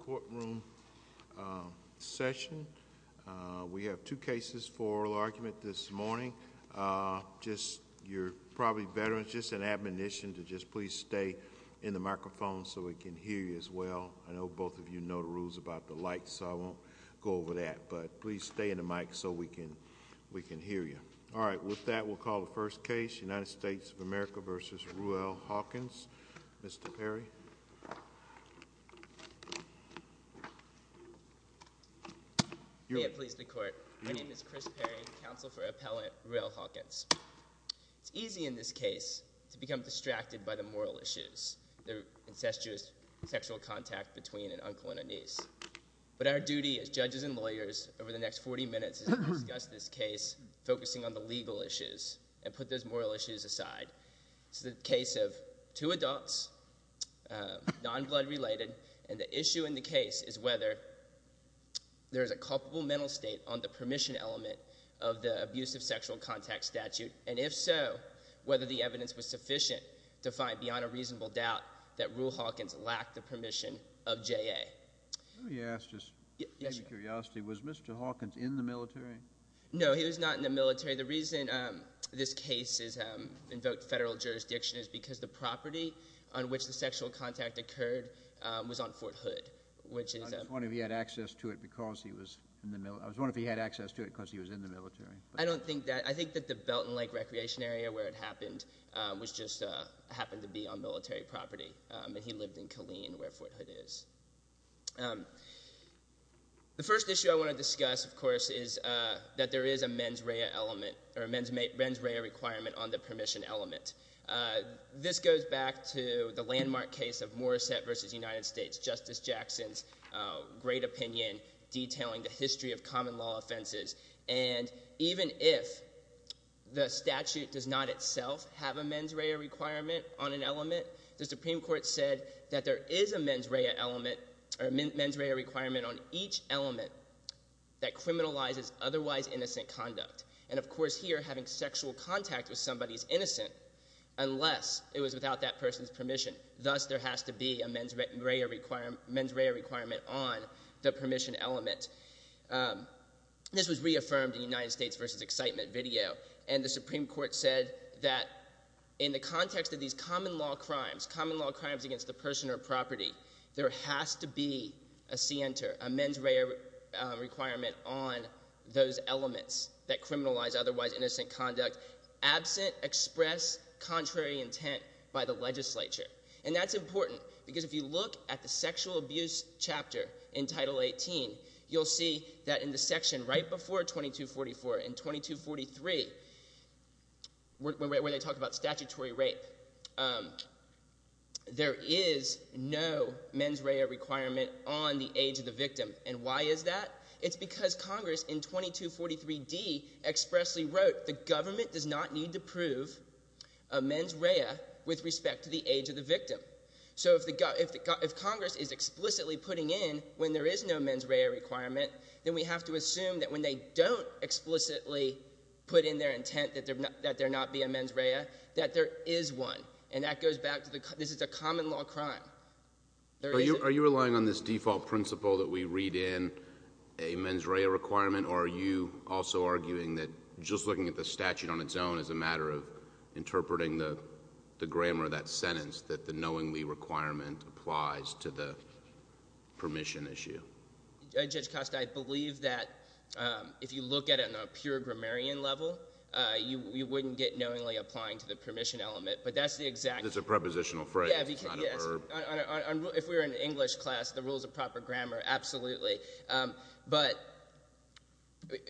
courtroom session. We have two cases for oral argument this morning. Just, you're probably veterans, just an admonition to just please stay in the microphone so we can hear you as well. I know both of you know the rules about the lights, so I won't go over that, but please stay in the mic so we can hear you. All right, with that we'll call the first case, United States of America v. Ruel Hawkins. Mr. Perry. May it please the court, my name is Chris Perry, counsel for appellant Ruel Hawkins. It's easy in this case to become distracted by the moral issues, the incestuous sexual contact between an uncle and a niece. But our duty as judges and lawyers over the next 40 minutes is to discuss this case, focusing on the legal issues and put those moral issues aside. It's the case of two adults, non-blood related, and the issue in the case is whether there is a culpable mental state on the permission element of the abusive sexual contact statute, and if so, whether the evidence was sufficient to find beyond a reasonable doubt that Ruel Hawkins lacked the permission of JA. Let me ask, just out of curiosity, was Mr. Hawkins in the military? No, he was not in the military The reason this case invoked federal jurisdiction is because the property on which the sexual contact occurred was on Fort Hood. I was wondering if he had access to it because he was in the military. I don't think that, I think that the Belton Lake Recreation Area where it happened was just, happened to be on military property, and he lived in Killeen where Fort Hood is. The first issue I want to discuss, of course, is that there is a mens rea requirement on the permission element. This goes back to the landmark case of Morrissette v. United States, Justice Jackson's great opinion detailing the history of common law offenses, and even if the statute does not itself have a mens rea requirement on an element, the Supreme Court has a mens rea requirement on each element that criminalizes otherwise innocent conduct, and of course here, having sexual contact with somebody is innocent unless it was without that person's permission. Thus, there has to be a mens rea requirement on the permission element. This was reaffirmed in United States v. Excitement video, and the Supreme Court said that in the context of these common law crimes, common law crimes against a person or property, there has to be a center, a mens rea requirement on those elements that criminalize otherwise innocent conduct absent expressed contrary intent by the legislature, and that's important because if you look at the sexual abuse chapter in Title 18, you'll see that in the section right before 2244, in 2243, where they talk about statutory rape, there is no mens rea requirement on the age of the victim, and why is that? It's because Congress in 2243d expressly wrote the government does not need to prove a mens rea with respect to the age of the victim. So if Congress is explicitly putting in when there is no mens rea requirement, then we have to assume that when they don't explicitly put in their intent that there not be a mens rea, that there is one, and that goes back to the common law crime. Are you relying on this default principle that we read in a mens rea requirement, or are you also arguing that just looking at the statute on its own is a matter of interpreting the grammar of that sentence, that the knowingly requirement applies to the permission issue? Judge Costa, I believe that if you look at it on a pure grammarian level, you wouldn't get knowingly applying to the permission element, but that's the exact... It's a prepositional phrase. Yeah, if we were in an English class, the rules of proper grammar, absolutely, but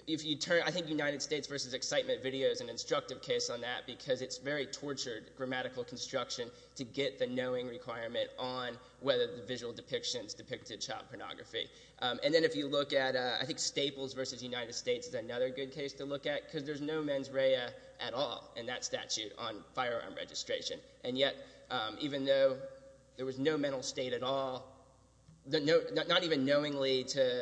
if you turn... I think United States versus Excitement video is an instructive case on that because it's very tortured grammatical construction to get the knowing requirement on whether the visual depictions depicted child pornography. And then if you look at... I think Staples versus United States is another good case to look at because there's no mens rea at all in that statute on firearm registration, and yet even though there was no mental state at all, not even knowingly to...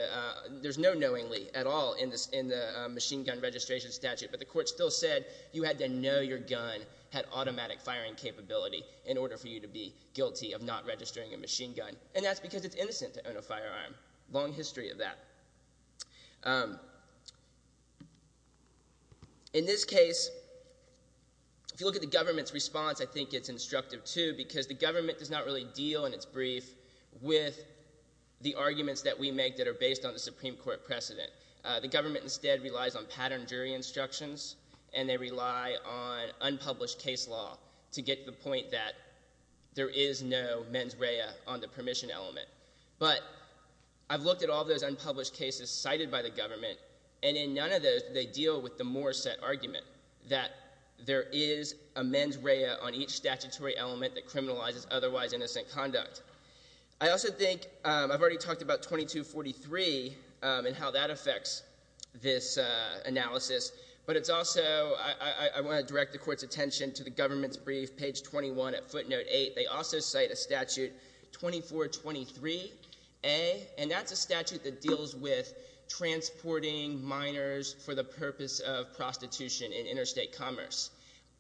There's no knowingly at all in the machine gun registration statute, but the court still said you had to know your gun had automatic firing capability in order for you to be guilty of not registering a machine gun, and that's because it's innocent to own a firearm. Long history of that. In this case, if you look at the government's response, I think it's instructive too because the government does not really deal in its brief with the arguments that we make that are based on the Supreme Court precedent. The government instead relies on pattern jury instructions, and they rely on unpublished case law to get to the point that there is no mens rea on the permission element. But I've looked at all those unpublished cases cited by the government, and in none of those, they deal with the more set argument that there is a mens rea on each statutory element that criminalizes otherwise innocent conduct. I also think... I've already talked about 2243 and how that affects this analysis, but it's also... I want to direct the court's attention to the government's brief, page 21 at footnote 8. They also cite a statute 2423A, and that's a statute that deals with transporting minors for the purpose of prostitution in interstate commerce.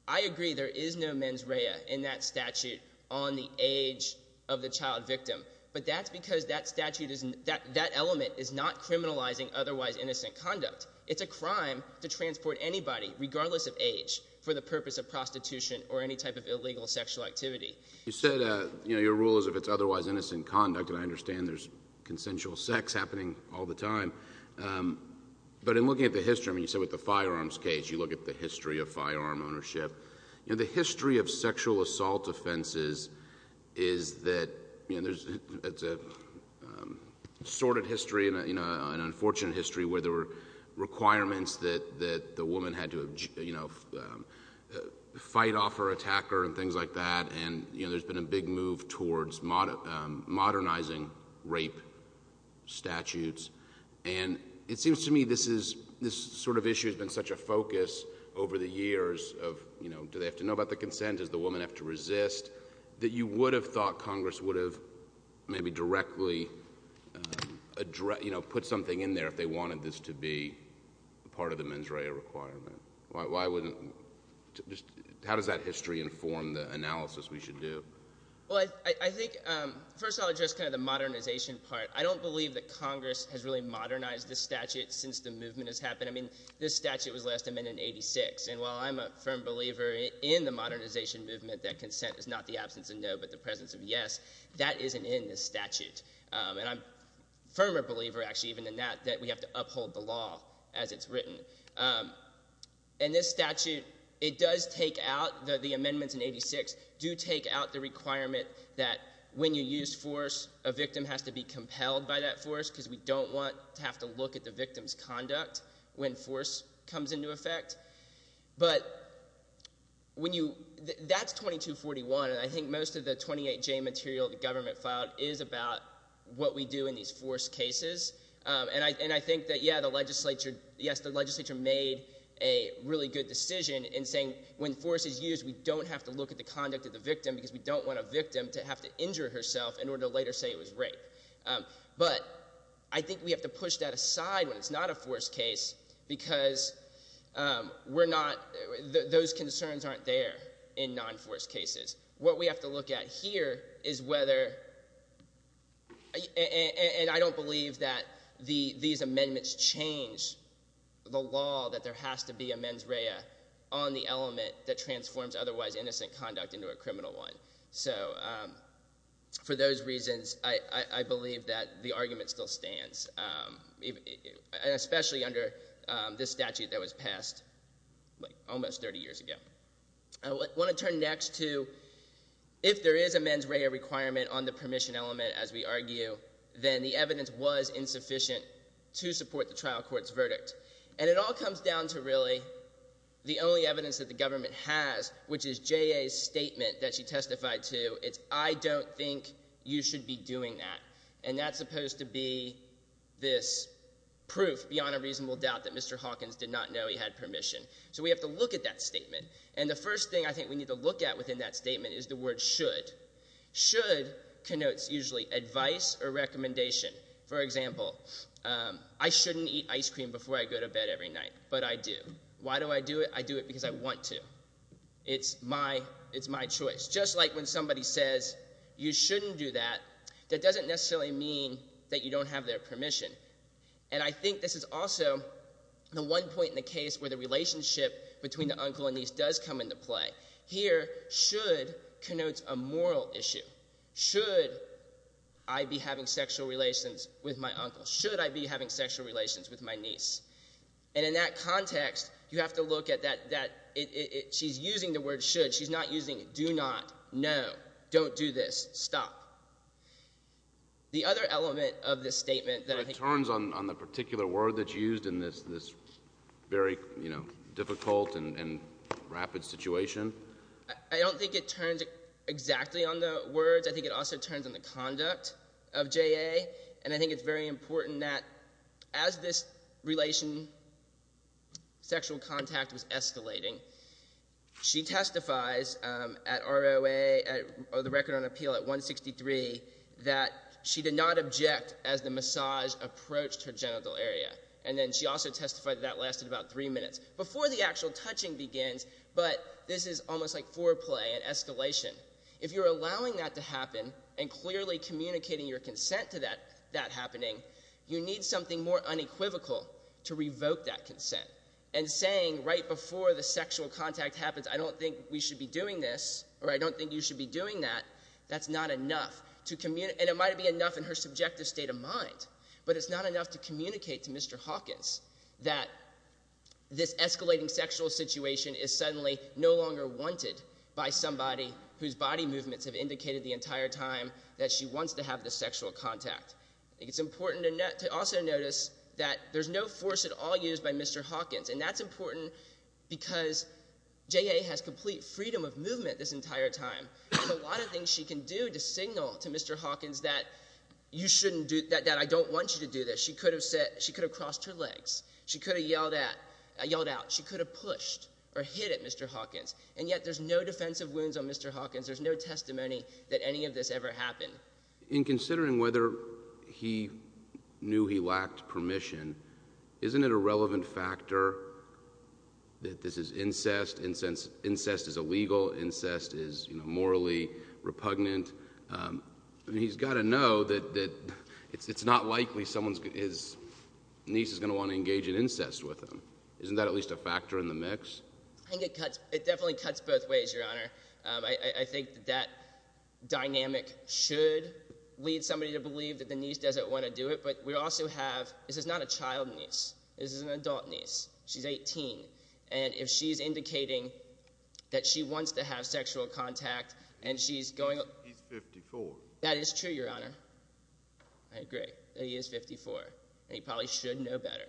I agree there is no mens rea in that statute on the age of the child victim, but that's because that element is not criminalizing otherwise innocent conduct. It's a crime to transport anybody, regardless of age, for the purpose of prostitution or any type of illegal sexual activity. You said your rule is if it's otherwise innocent conduct, and I understand there's consensual sex happening all the time, but in looking at the history... I mean, you said with the firearm ownership. The history of sexual assault offenses is that... It's a sordid history and an unfortunate history where there were requirements that the woman had to fight off her attacker and things like that, and there's been a big move towards modernizing rape statutes. And it seems to me this is... This sort of issue has been such a focus over the years of do they have to know about the consent? Does the woman have to resist? That you would have thought Congress would have maybe directly put something in there if they wanted this to be part of the mens rea requirement. Why wouldn't... How does that history inform the analysis we should do? Well, I think first I'll address kind of the modernization part. I don't believe that Congress has really modernized this statute since the movement has happened. I mean, this statute was last amended in 86, and while I'm a firm believer in the modernization movement that consent is not the absence of no but the presence of yes, that isn't in this statute. And I'm a firmer believer actually even than that that we have to uphold the law as it's written. And this statute, it does take out... The amendments in 86 do take out the requirement that when you use force, a victim has to be compelled by that force, because we don't want to have to look at the victim's conduct when force comes into effect. But when you... That's 2241, and I think most of the 28J material the government filed is about what we do in these force cases. And I think that, yeah, the legislature... Yes, the legislature made a really good decision in saying when force is used, we don't have to look at the conduct of the victim, because we don't want a victim to have to injure herself in order to later say it was rape. But I think we have to push that aside when it's not a force case, because we're not... Those concerns aren't there in non-force cases. What we have to look at here is whether... And I don't believe that these amendments change the law that there has to be a mens rea on the element that transforms otherwise innocent conduct into a criminal one. So for those reasons, I believe that the argument still stands, and especially under this statute that was passed almost 30 years ago. I want to turn next to if there is a mens rea requirement on the permission element, as we argue, then the evidence was insufficient to support the trial court's verdict. And it all comes down to really the only evidence that the government has, which is J.A.'s statement that she testified to. It's, I don't think you should be doing that. And that's supposed to be this proof beyond a reasonable doubt that Mr. Hawkins did not know he had permission. So we have to look at that statement. And the first thing I think we need to look at within that statement is the word should. Should connotes usually advice or recommendation. For example, I shouldn't eat ice cream before I go to bed every night, but I do. Why do I do it? I do it because I want to. It's my choice. Just like when somebody says you shouldn't do that, that doesn't necessarily mean that you don't have their permission. And I think this is also the one point in the case where the relationship between the uncle and niece does come into play. Here, should connotes a moral issue. Should I be having sexual relations with my uncle? Should I be having sexual relations with my niece? And in that context, you have to look at that, that, it, it, it, she's using the word should. She's not using do not, no, don't do this, stop. The other element of this statement that I think... But it turns on, on the particular word that's used in this, this very, you know, difficult and, and rapid situation. I don't think it turns exactly on the words. I think it also turns on the conduct of J.A. And I think it's very important that as this relation, sexual contact was escalating, she testifies at ROA, at the Record on Appeal at 163, that she did not object as the massage approached her genital area. And then she also testified that that lasted about three minutes before the actual touching begins. But this is almost like foreplay, an escalation. If you're allowing that to happen, and clearly communicating your consent to that, that happening, you need something more unequivocal to revoke that consent. And saying right before the sexual contact happens, I don't think we should be doing this, or I don't think you should be doing that, that's not enough to communi-, and it might be enough in her subjective state of mind, but it's not enough to communicate to Mr. Hawkins that this escalating sexual situation is suddenly no longer wanted by somebody whose body movements have indicated the entire time that she wants to have this sexual contact. It's important to also notice that there's no force at all used by Mr. Hawkins. And that's important because J.A. has complete freedom of movement this entire time. There's a lot of things she can do to signal to Mr. Hawkins that you shouldn't do, that I don't want you to do this. She could have crossed her legs. She could have yelled at, yelled out. She could have pushed or hit at Mr. Hawkins. And yet there's no defense of wounds on Mr. Hawkins. There's no testimony that any of this ever happened. In considering whether he knew he lacked permission, isn't it a relevant factor that this is incest? Incense, incest is illegal. Incest is, you know, morally repugnant. I mean, he's got to know that, that it's, it's not likely someone's is, niece is going to want to engage in incest with him. Isn't that at least a factor in the mix? I think it cuts, it definitely cuts both ways, Your Honor. I, I think that dynamic should lead somebody to believe that the niece doesn't want to do it. But we also have, this is not a child niece. This is an adult niece. She's 18. And if she's indicating that she wants to have sexual contact and she's going... He's 54. That is true, Your Honor. I agree that he is 54. And he probably should know better.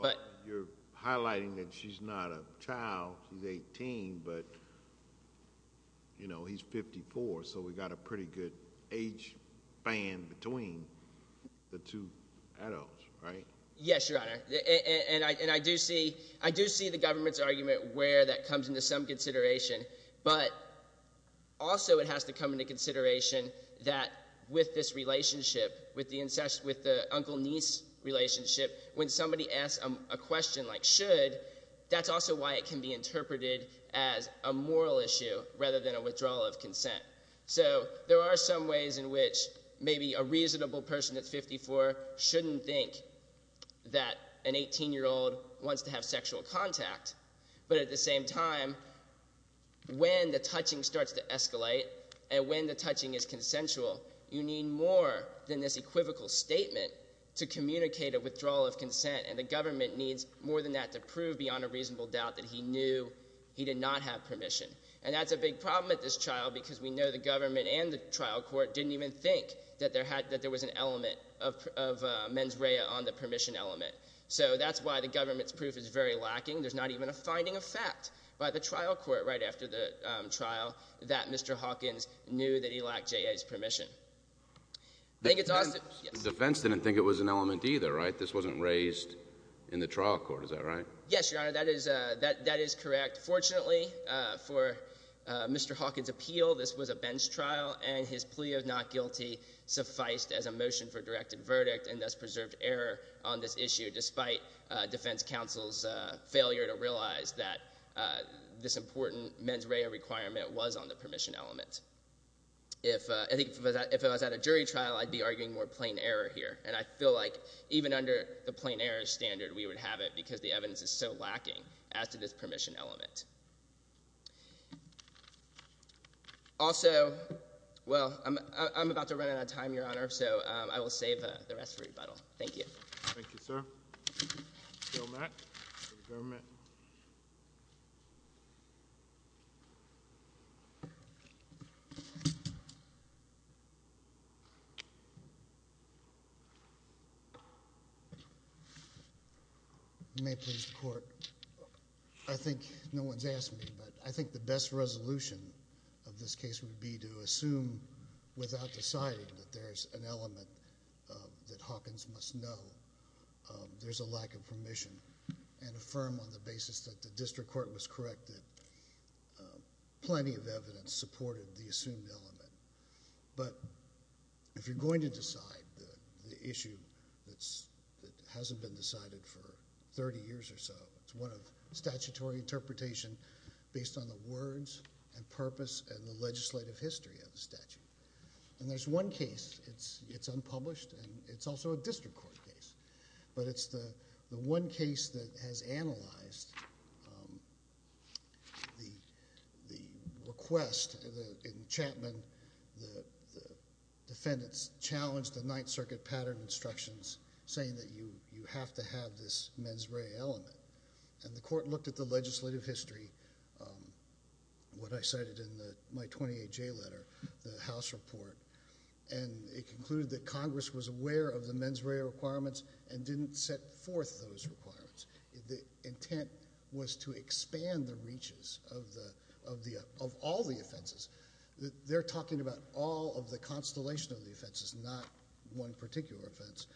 But... You're highlighting that she's not a child. She's 18. But, you know, he's 54. So we got a pretty good age band between the two adults, right? Yes, Your Honor. And I, and I do see, I do see the government's argument where that comes into some consideration. But also it has to come into consideration that with this relationship, with the incest, with the uncle-niece relationship, when somebody asks a question like, should, that's also why it can be interpreted as a moral issue rather than a withdrawal of consent. So there are some ways in which maybe a reasonable person that's 54 shouldn't think that an 18 year old should have permission. But at the same time, when the touching starts to escalate and when the touching is consensual, you need more than this equivocal statement to communicate a withdrawal of consent. And the government needs more than that to prove beyond a reasonable doubt that he knew he did not have permission. And that's a big problem with this child because we know the government and the trial court didn't even think that there had, that there was an element of mens rea on the permission element. So that's why the government's proof is very lacking. There's not even a finding of fact by the trial court right after the trial that Mr. Hawkins knew that he lacked J.A.'s permission. The defense didn't think it was an element either, right? This wasn't raised in the trial court, is that right? Yes, your honor, that is correct. Fortunately, for Mr. Hawkins' appeal, this was a bench trial and his plea of not guilty sufficed as a motion for directed verdict and thus was a failure to realize that this important mens rea requirement was on the permission element. If, I think, if it was at a jury trial, I'd be arguing more plain error here and I feel like even under the plain error standard, we would have it because the evidence is so lacking as to this permission element. Also, well, I'm about to run out of time, your honor, so I will save the rest for rebuttal. Thank you, your honor, for the government. May it please the court. I think, no one's asked me, but I think the best resolution of this case would be to assume without deciding that there's an element that Hawkins must know there's a lack of permission and affirm on the basis that the district court was correct that plenty of evidence supported the assumed element. If you're going to decide the issue that hasn't been decided for thirty years or so, it's one of statutory interpretation based on the words and purpose and the legislative history of the statute. There's one case, it's unpublished, and it's also a district court case, but it's the one case that has analyzed the request in Chapman, the defendants challenged the Ninth Circuit pattern instructions saying that you have to have this mens rea element and the court looked at the legislative it concluded that Congress was aware of the mens rea requirements and didn't set forth those requirements. The intent was to expand the reaches of all the offenses. They're talking about all of the constellation of the offenses, not one particular offense.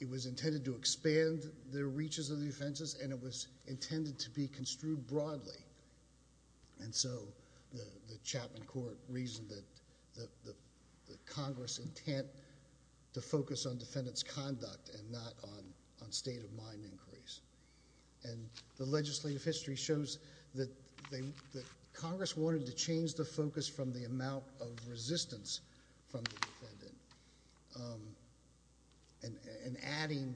It was intended to expand the reaches of the offenses and it was intended to be construed broadly, and so the Chapman court reasoned that the Congress intent to focus on defendant's conduct and not on state of mind inquiries. The legislative history shows that Congress wanted to change the focus from the amount of resistance from the defendant. Adding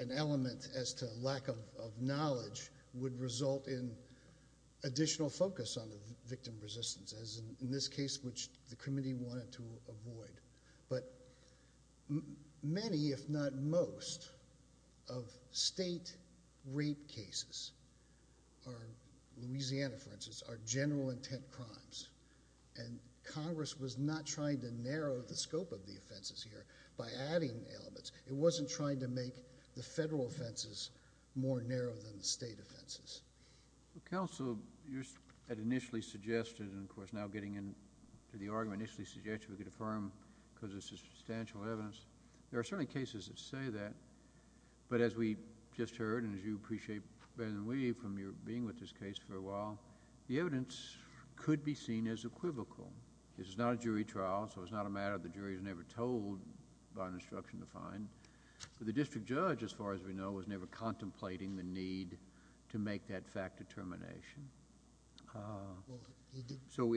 an element as to lack of knowledge would result in additional focus on the victim resistance, as in this case which the committee wanted to avoid. Many, if not most, of state rape cases, Louisiana for instance, are general intent crimes, and Congress was not trying to narrow the scope of the offenses here by adding elements. It wasn't trying to make the federal offenses more narrow than the state offenses. Counsel, you had initially suggested, and of course now getting into the argument, initially suggested we could affirm because of substantial evidence. There are certainly cases that say that, but as we just heard and as you appreciate better than we from your being with this case for a while, the evidence could be seen as equivocal. This is not a jury trial, so it's not a matter the jury is never told by an instruction to find, but the district judge as far as we know is never contemplating the need to make that fact determination. So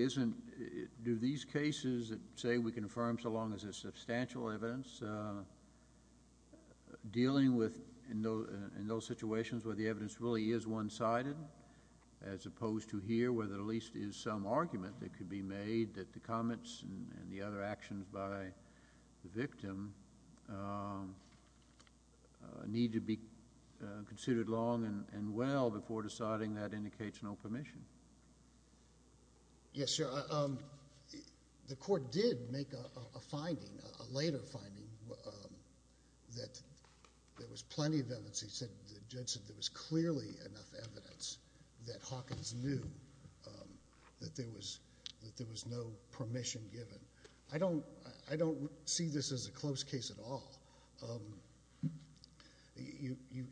do these cases that say we can affirm so long as there's substantial evidence, dealing with in those situations where the evidence really is one-sided, as opposed to here where there at least is some argument that could be made that the comments and the other actions by the victim need to be considered long and well before deciding that indicates no permission? Yes, sir. The court did make a finding, a later finding, that there was plenty of evidence. The judge said there was clearly enough evidence that Hawkins knew that there was no permission given. I don't see this as a close case at all.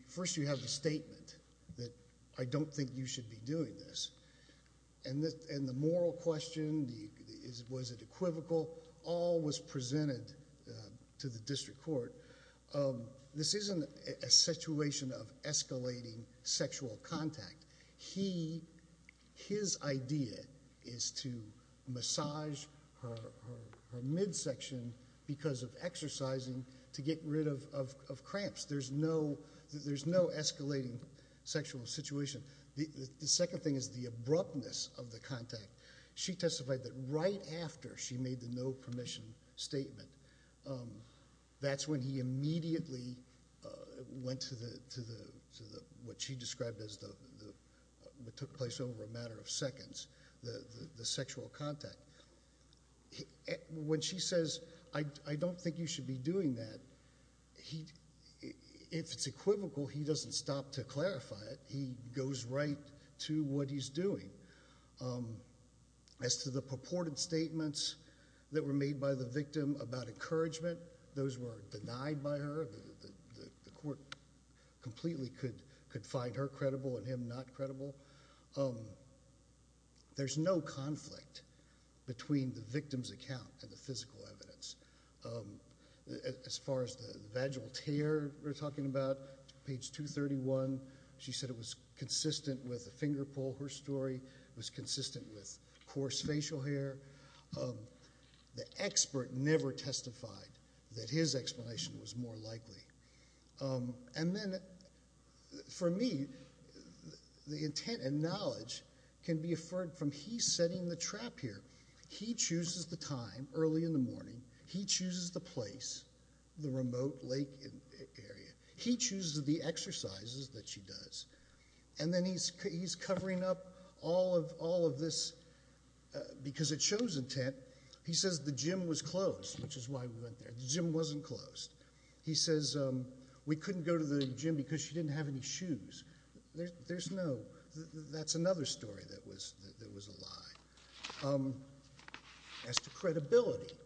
First you have the statement that I don't think you should be doing this, and the moral question, was it equivocal, all was presented to the district court. This isn't a situation of escalating sexual contact. His idea is to massage her midsection because of exercising to get rid of cramps. There's no escalating sexual situation. The second thing is the abruptness of the contact. She testified that right after she made the no permission statement, that's when he immediately went to what she described as what took place over a matter of seconds, the sexual contact. When she says, I don't think you should be doing that, if it's equivocal, he doesn't stop to clarify it. He goes right to what he's doing. As to the purported statements that were made by the victim about encouragement, those were denied by her. The court completely could find her credible and him not credible. There's no conflict between the victim's account and the physical evidence. As far as the vaginal tear we're talking about, page 231, she said it was consistent with a finger pull her story, it was consistent with coarse facial hair. The expert never testified that his explanation was more likely. For me, the intent and knowledge can be inferred from he setting the trap here. He chooses the time early in the morning. He chooses the place, the remote lake area. He chooses the exercises that she does. He's covering up all of this because it shows intent. He says the gym was closed, which is why we went there. The gym wasn't closed. He says we couldn't go to the gym because she didn't have any shoes. That's another story that was a lie. As to credibility, he said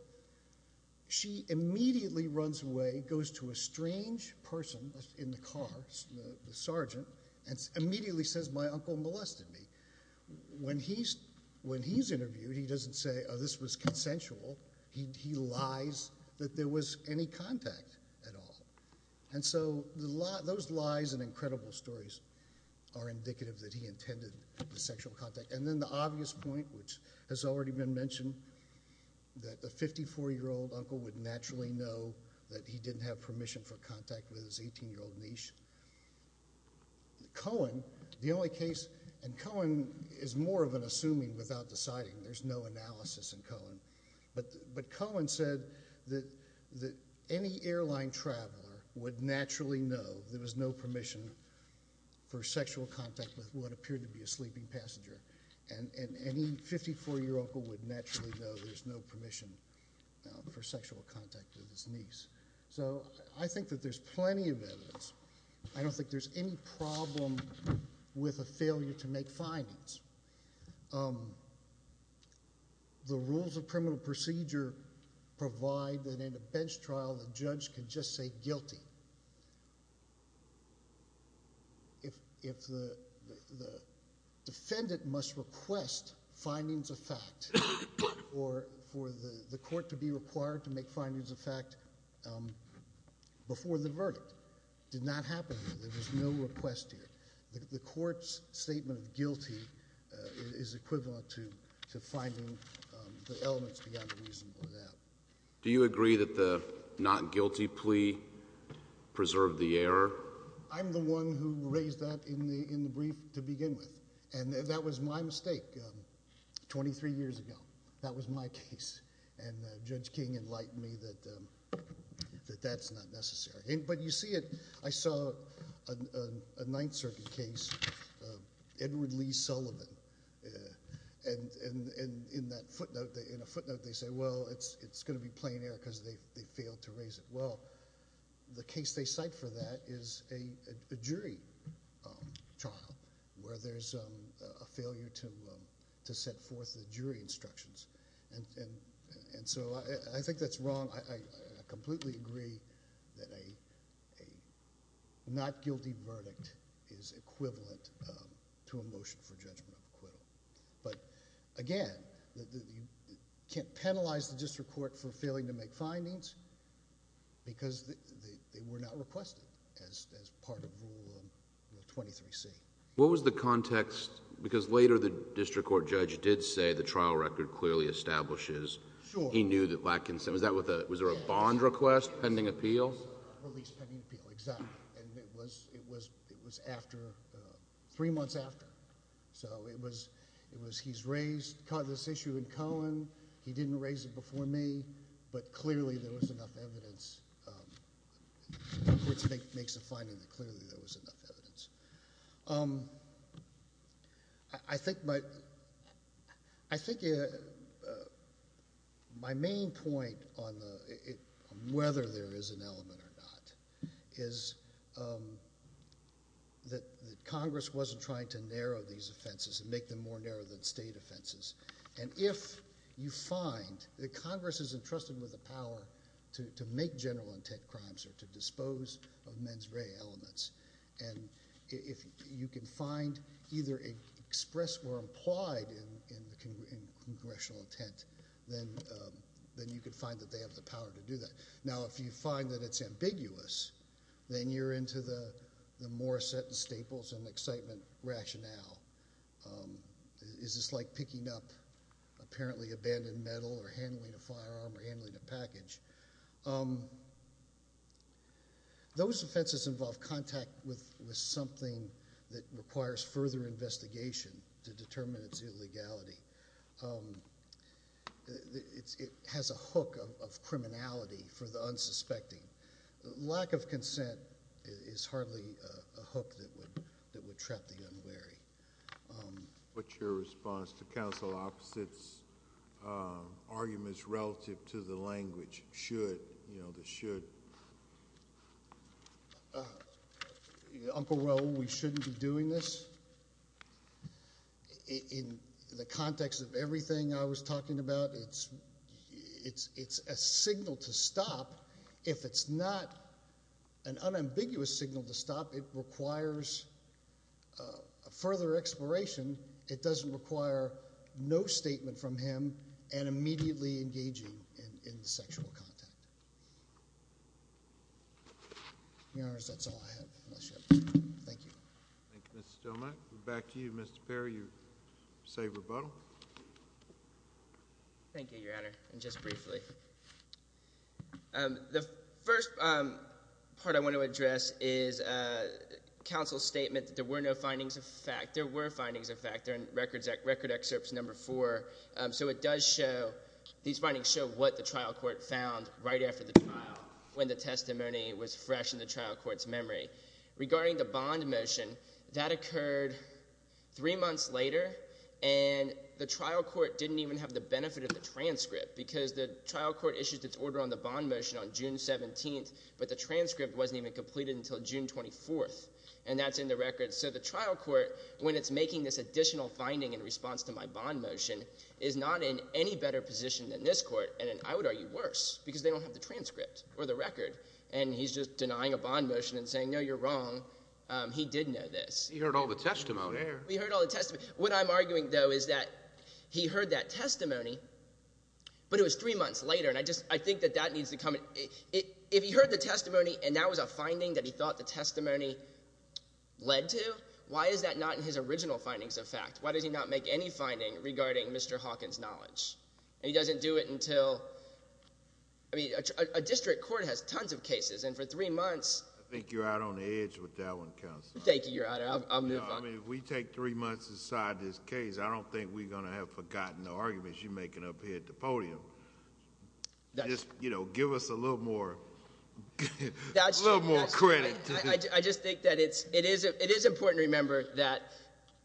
she immediately runs away, goes to a strange person in the car, the sergeant, and immediately says my uncle molested me. When he's interviewed, he doesn't say this was consensual. He lies that there was any contact at all. Those lies and incredible stories are indicative that he intended the sexual contact. Then the obvious point, which has already been mentioned, that a 54-year-old uncle would naturally know that he didn't have permission for contact with his 18-year-old niche. Cohen, the only case, and Cohen is more of an assuming without deciding. There's no analysis in Cohen. Cohen said that any airline traveler would naturally know there was no permission for sexual contact with what appeared to be a sleeping passenger. Any 54-year-old uncle would naturally know there's no permission for sexual contact with his niece. I think that there's plenty of evidence. I don't think there's any problem with a failure to make findings. The rules of criminal procedure provide that in a bench trial the judge can just say guilty. If the defendant knows that there's no evidence, he must request findings of fact for the court to be required to make findings of fact before the verdict. It did not happen here. There was no request here. The court's statement of guilty is equivalent to finding the elements beyond the reason for that. Do you agree that the not guilty plea preserved the error? I'm the one who raised that in the brief to begin with. That was my mistake 23 years ago. That was my case. Judge King enlightened me that that's not necessary. I saw a Ninth Circuit case, Edward Lee Sullivan. In a footnote they say, well, it's going to be plain error because they failed to raise it. The case they cite for that is a jury trial where there's a failure to set forth the jury instructions. I think that's wrong. I completely agree that a not guilty verdict is equivalent to a motion for judgment of acquittal. Again, you can't penalize the district court for failing to make findings because they were not requested as part of Rule 23C. What was the context? Because later the district court judge did say the trial record clearly establishes he knew that lack... Was there a bond request pending appeal? Release pending appeal, exactly. It was three months after. He's raised this issue in Cohen. He didn't raise it before me, but clearly there was enough evidence... which makes a finding that clearly there was enough evidence. My main point on whether there is an element or not is that Congress wasn't trying to narrow these offenses and make them more narrow than state offenses. If you find that Congress is entrusted with the power to make general intent crimes or to dispose of mens rea elements, you can find either expressed or implied in the congressional intent, then you can find that they have the power to do that. Now, if you find that it's ambiguous, then you're into the more set and staples and excitement rationale. Is this like picking up apparently abandoned metal or handling a firearm or handling a package? Those offenses involve contact with something that requires further investigation to determine its illegality. It has a hook of criminality for the unsuspecting. Lack of consent is hardly a hook that would trap the unwary. What's your response to counsel Opposite's arguments relative to the language, should, you know, the should? Uncle Roe, we shouldn't be doing this. In the context of everything I was talking about, it's a signal to stop. If it's not an unambiguous signal to stop, it requires further exploration. It doesn't require no statement from him and immediately engaging in sexual contact. In other words, that's all I have. Thank you. Thank you, Mr. Stilman. Back to you, Mr. Perry, you say rebuttal. Thank you, Your Honor, and just briefly. The first part I want to address is counsel's statement that there were no findings of fact. There were findings of fact. They're in Record Excerpts Number 4. So it does show, these findings show what the trial court found right after the trial, when the testimony was fresh in the trial court's memory. Regarding the bond motion, that occurred three months later, and the trial court didn't even have the benefit of the transcript, because the trial court issued its order on the bond motion on June 17th, but the transcript wasn't even completed until June 24th, and that's in the record. So the trial court, when it's making this additional finding in response to my bond motion, is not in any better position than this court, and I would argue worse, because they don't have the transcript, or the record, and he's just denying a bond motion and saying, no, you're wrong. He did know this. He heard all the testimony. He heard all the testimony. What I'm arguing, though, is that he heard that testimony, but it was three months later, and I just, I think that that needs to come, if he heard the testimony and that was a finding that he thought the testimony led to, why is that not in his original findings of fact? Why does he not make any finding regarding Mr. Hawkins' knowledge? And he doesn't do it until, I mean, a district court has tons of cases, and for three months... I think you're out on the edge with that one, counsel. Thank you, Your Honor. I'll move on. No, I mean, if we take three months to decide this case, I don't think we're going to have forgotten the arguments you're making up here at the podium. Just, you know, give us a little more credit to the... I just think that it is important to remember that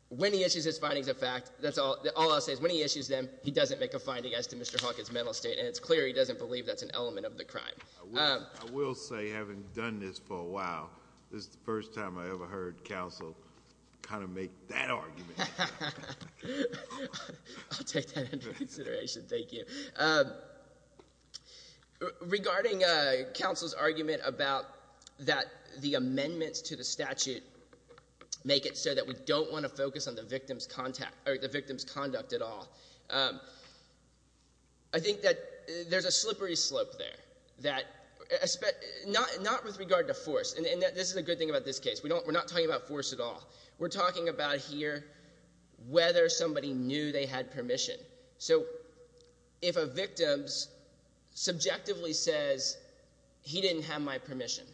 when he issues his findings of fact, all I'll say is when he issues them, he doesn't make a finding as to Mr. Hawkins' mental state, and it's clear he doesn't believe that's an element of the crime. I will say, having done this for a while, this is the first time I ever heard counsel kind of make that argument. I'll take that into consideration. Thank you. Regarding counsel's argument about that the amendments to the statute make it so that we don't want to focus on the victim's conduct at all, I think that there's a slippery slope there. Not with regard to force, and this is a good thing about this case. We're not talking about force at all. We're talking about here whether somebody knew they had permission. So, if a victim subjectively says, he didn't have my permission,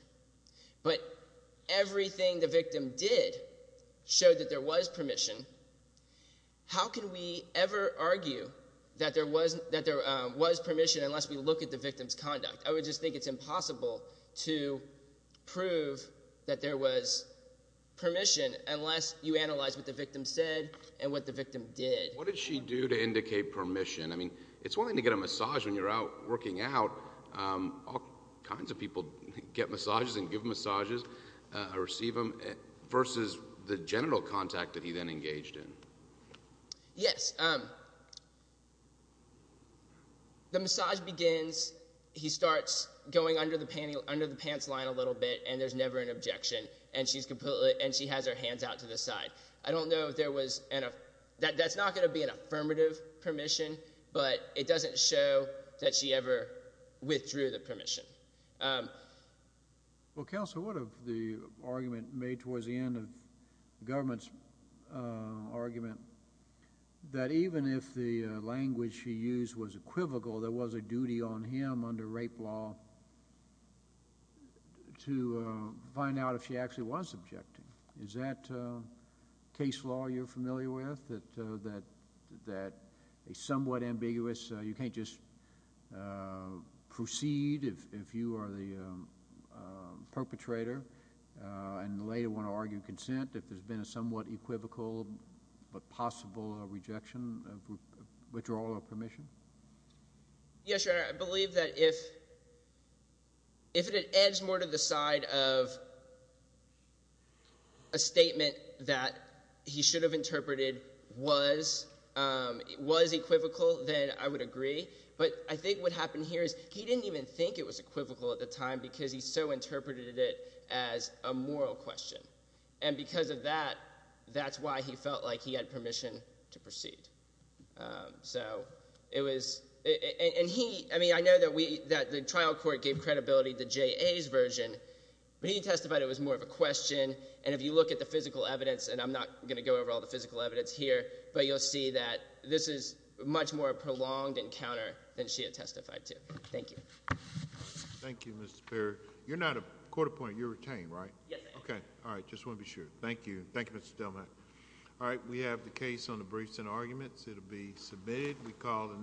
but everything the victim did showed that there was permission, how can we ever argue that there was permission unless we look at the victim's conduct? I would just think it's impossible to prove that there was permission unless you analyze what the victim said and what the victim did. What did she do to indicate permission? It's one thing to get a massage when you're out looking out. All kinds of people get massages and give massages or receive them. Versus the genital contact that he then engaged in. Yes. The massage begins, he starts going under the pants line a little bit, and there's never an objection, and she has her hands out to the side. I don't know if there was, that's not going to be an affirmative permission, but it doesn't show that she ever withdrew the permission. Well, Counselor, what of the argument made towards the end of the government's argument that even if the language she used was equivocal, there was a duty on him under rape law to that a somewhat ambiguous, you can't just proceed if you are the perpetrator and later want to argue consent, if there's been a somewhat equivocal but possible rejection of withdrawal of permission? Yes, Your Honor. I believe that if it adds more to the side of a statement that he should have interpreted was equivocal, then I would agree. I think what happened here is he didn't even think it was equivocal at the time because he so interpreted it as a moral question. Because of that, that's why he felt like he had permission to proceed. I know that the trial court gave credibility to J.A.'s version, but he testified it was more of a question, and if you look at the physical evidence, and I'm not going to go over all the physical evidence here, but you'll see that this is much more of a prolonged encounter than she had testified to. Thank you. Thank you, Mr. Perry. You're not a court-appointed, you're retained, right? Yes, I am. Okay. All right. Just want to be sure. Thank you. Thank you, Mr. Delman. All right. We have the case on the briefs and arguments. It'll be submitted. We call the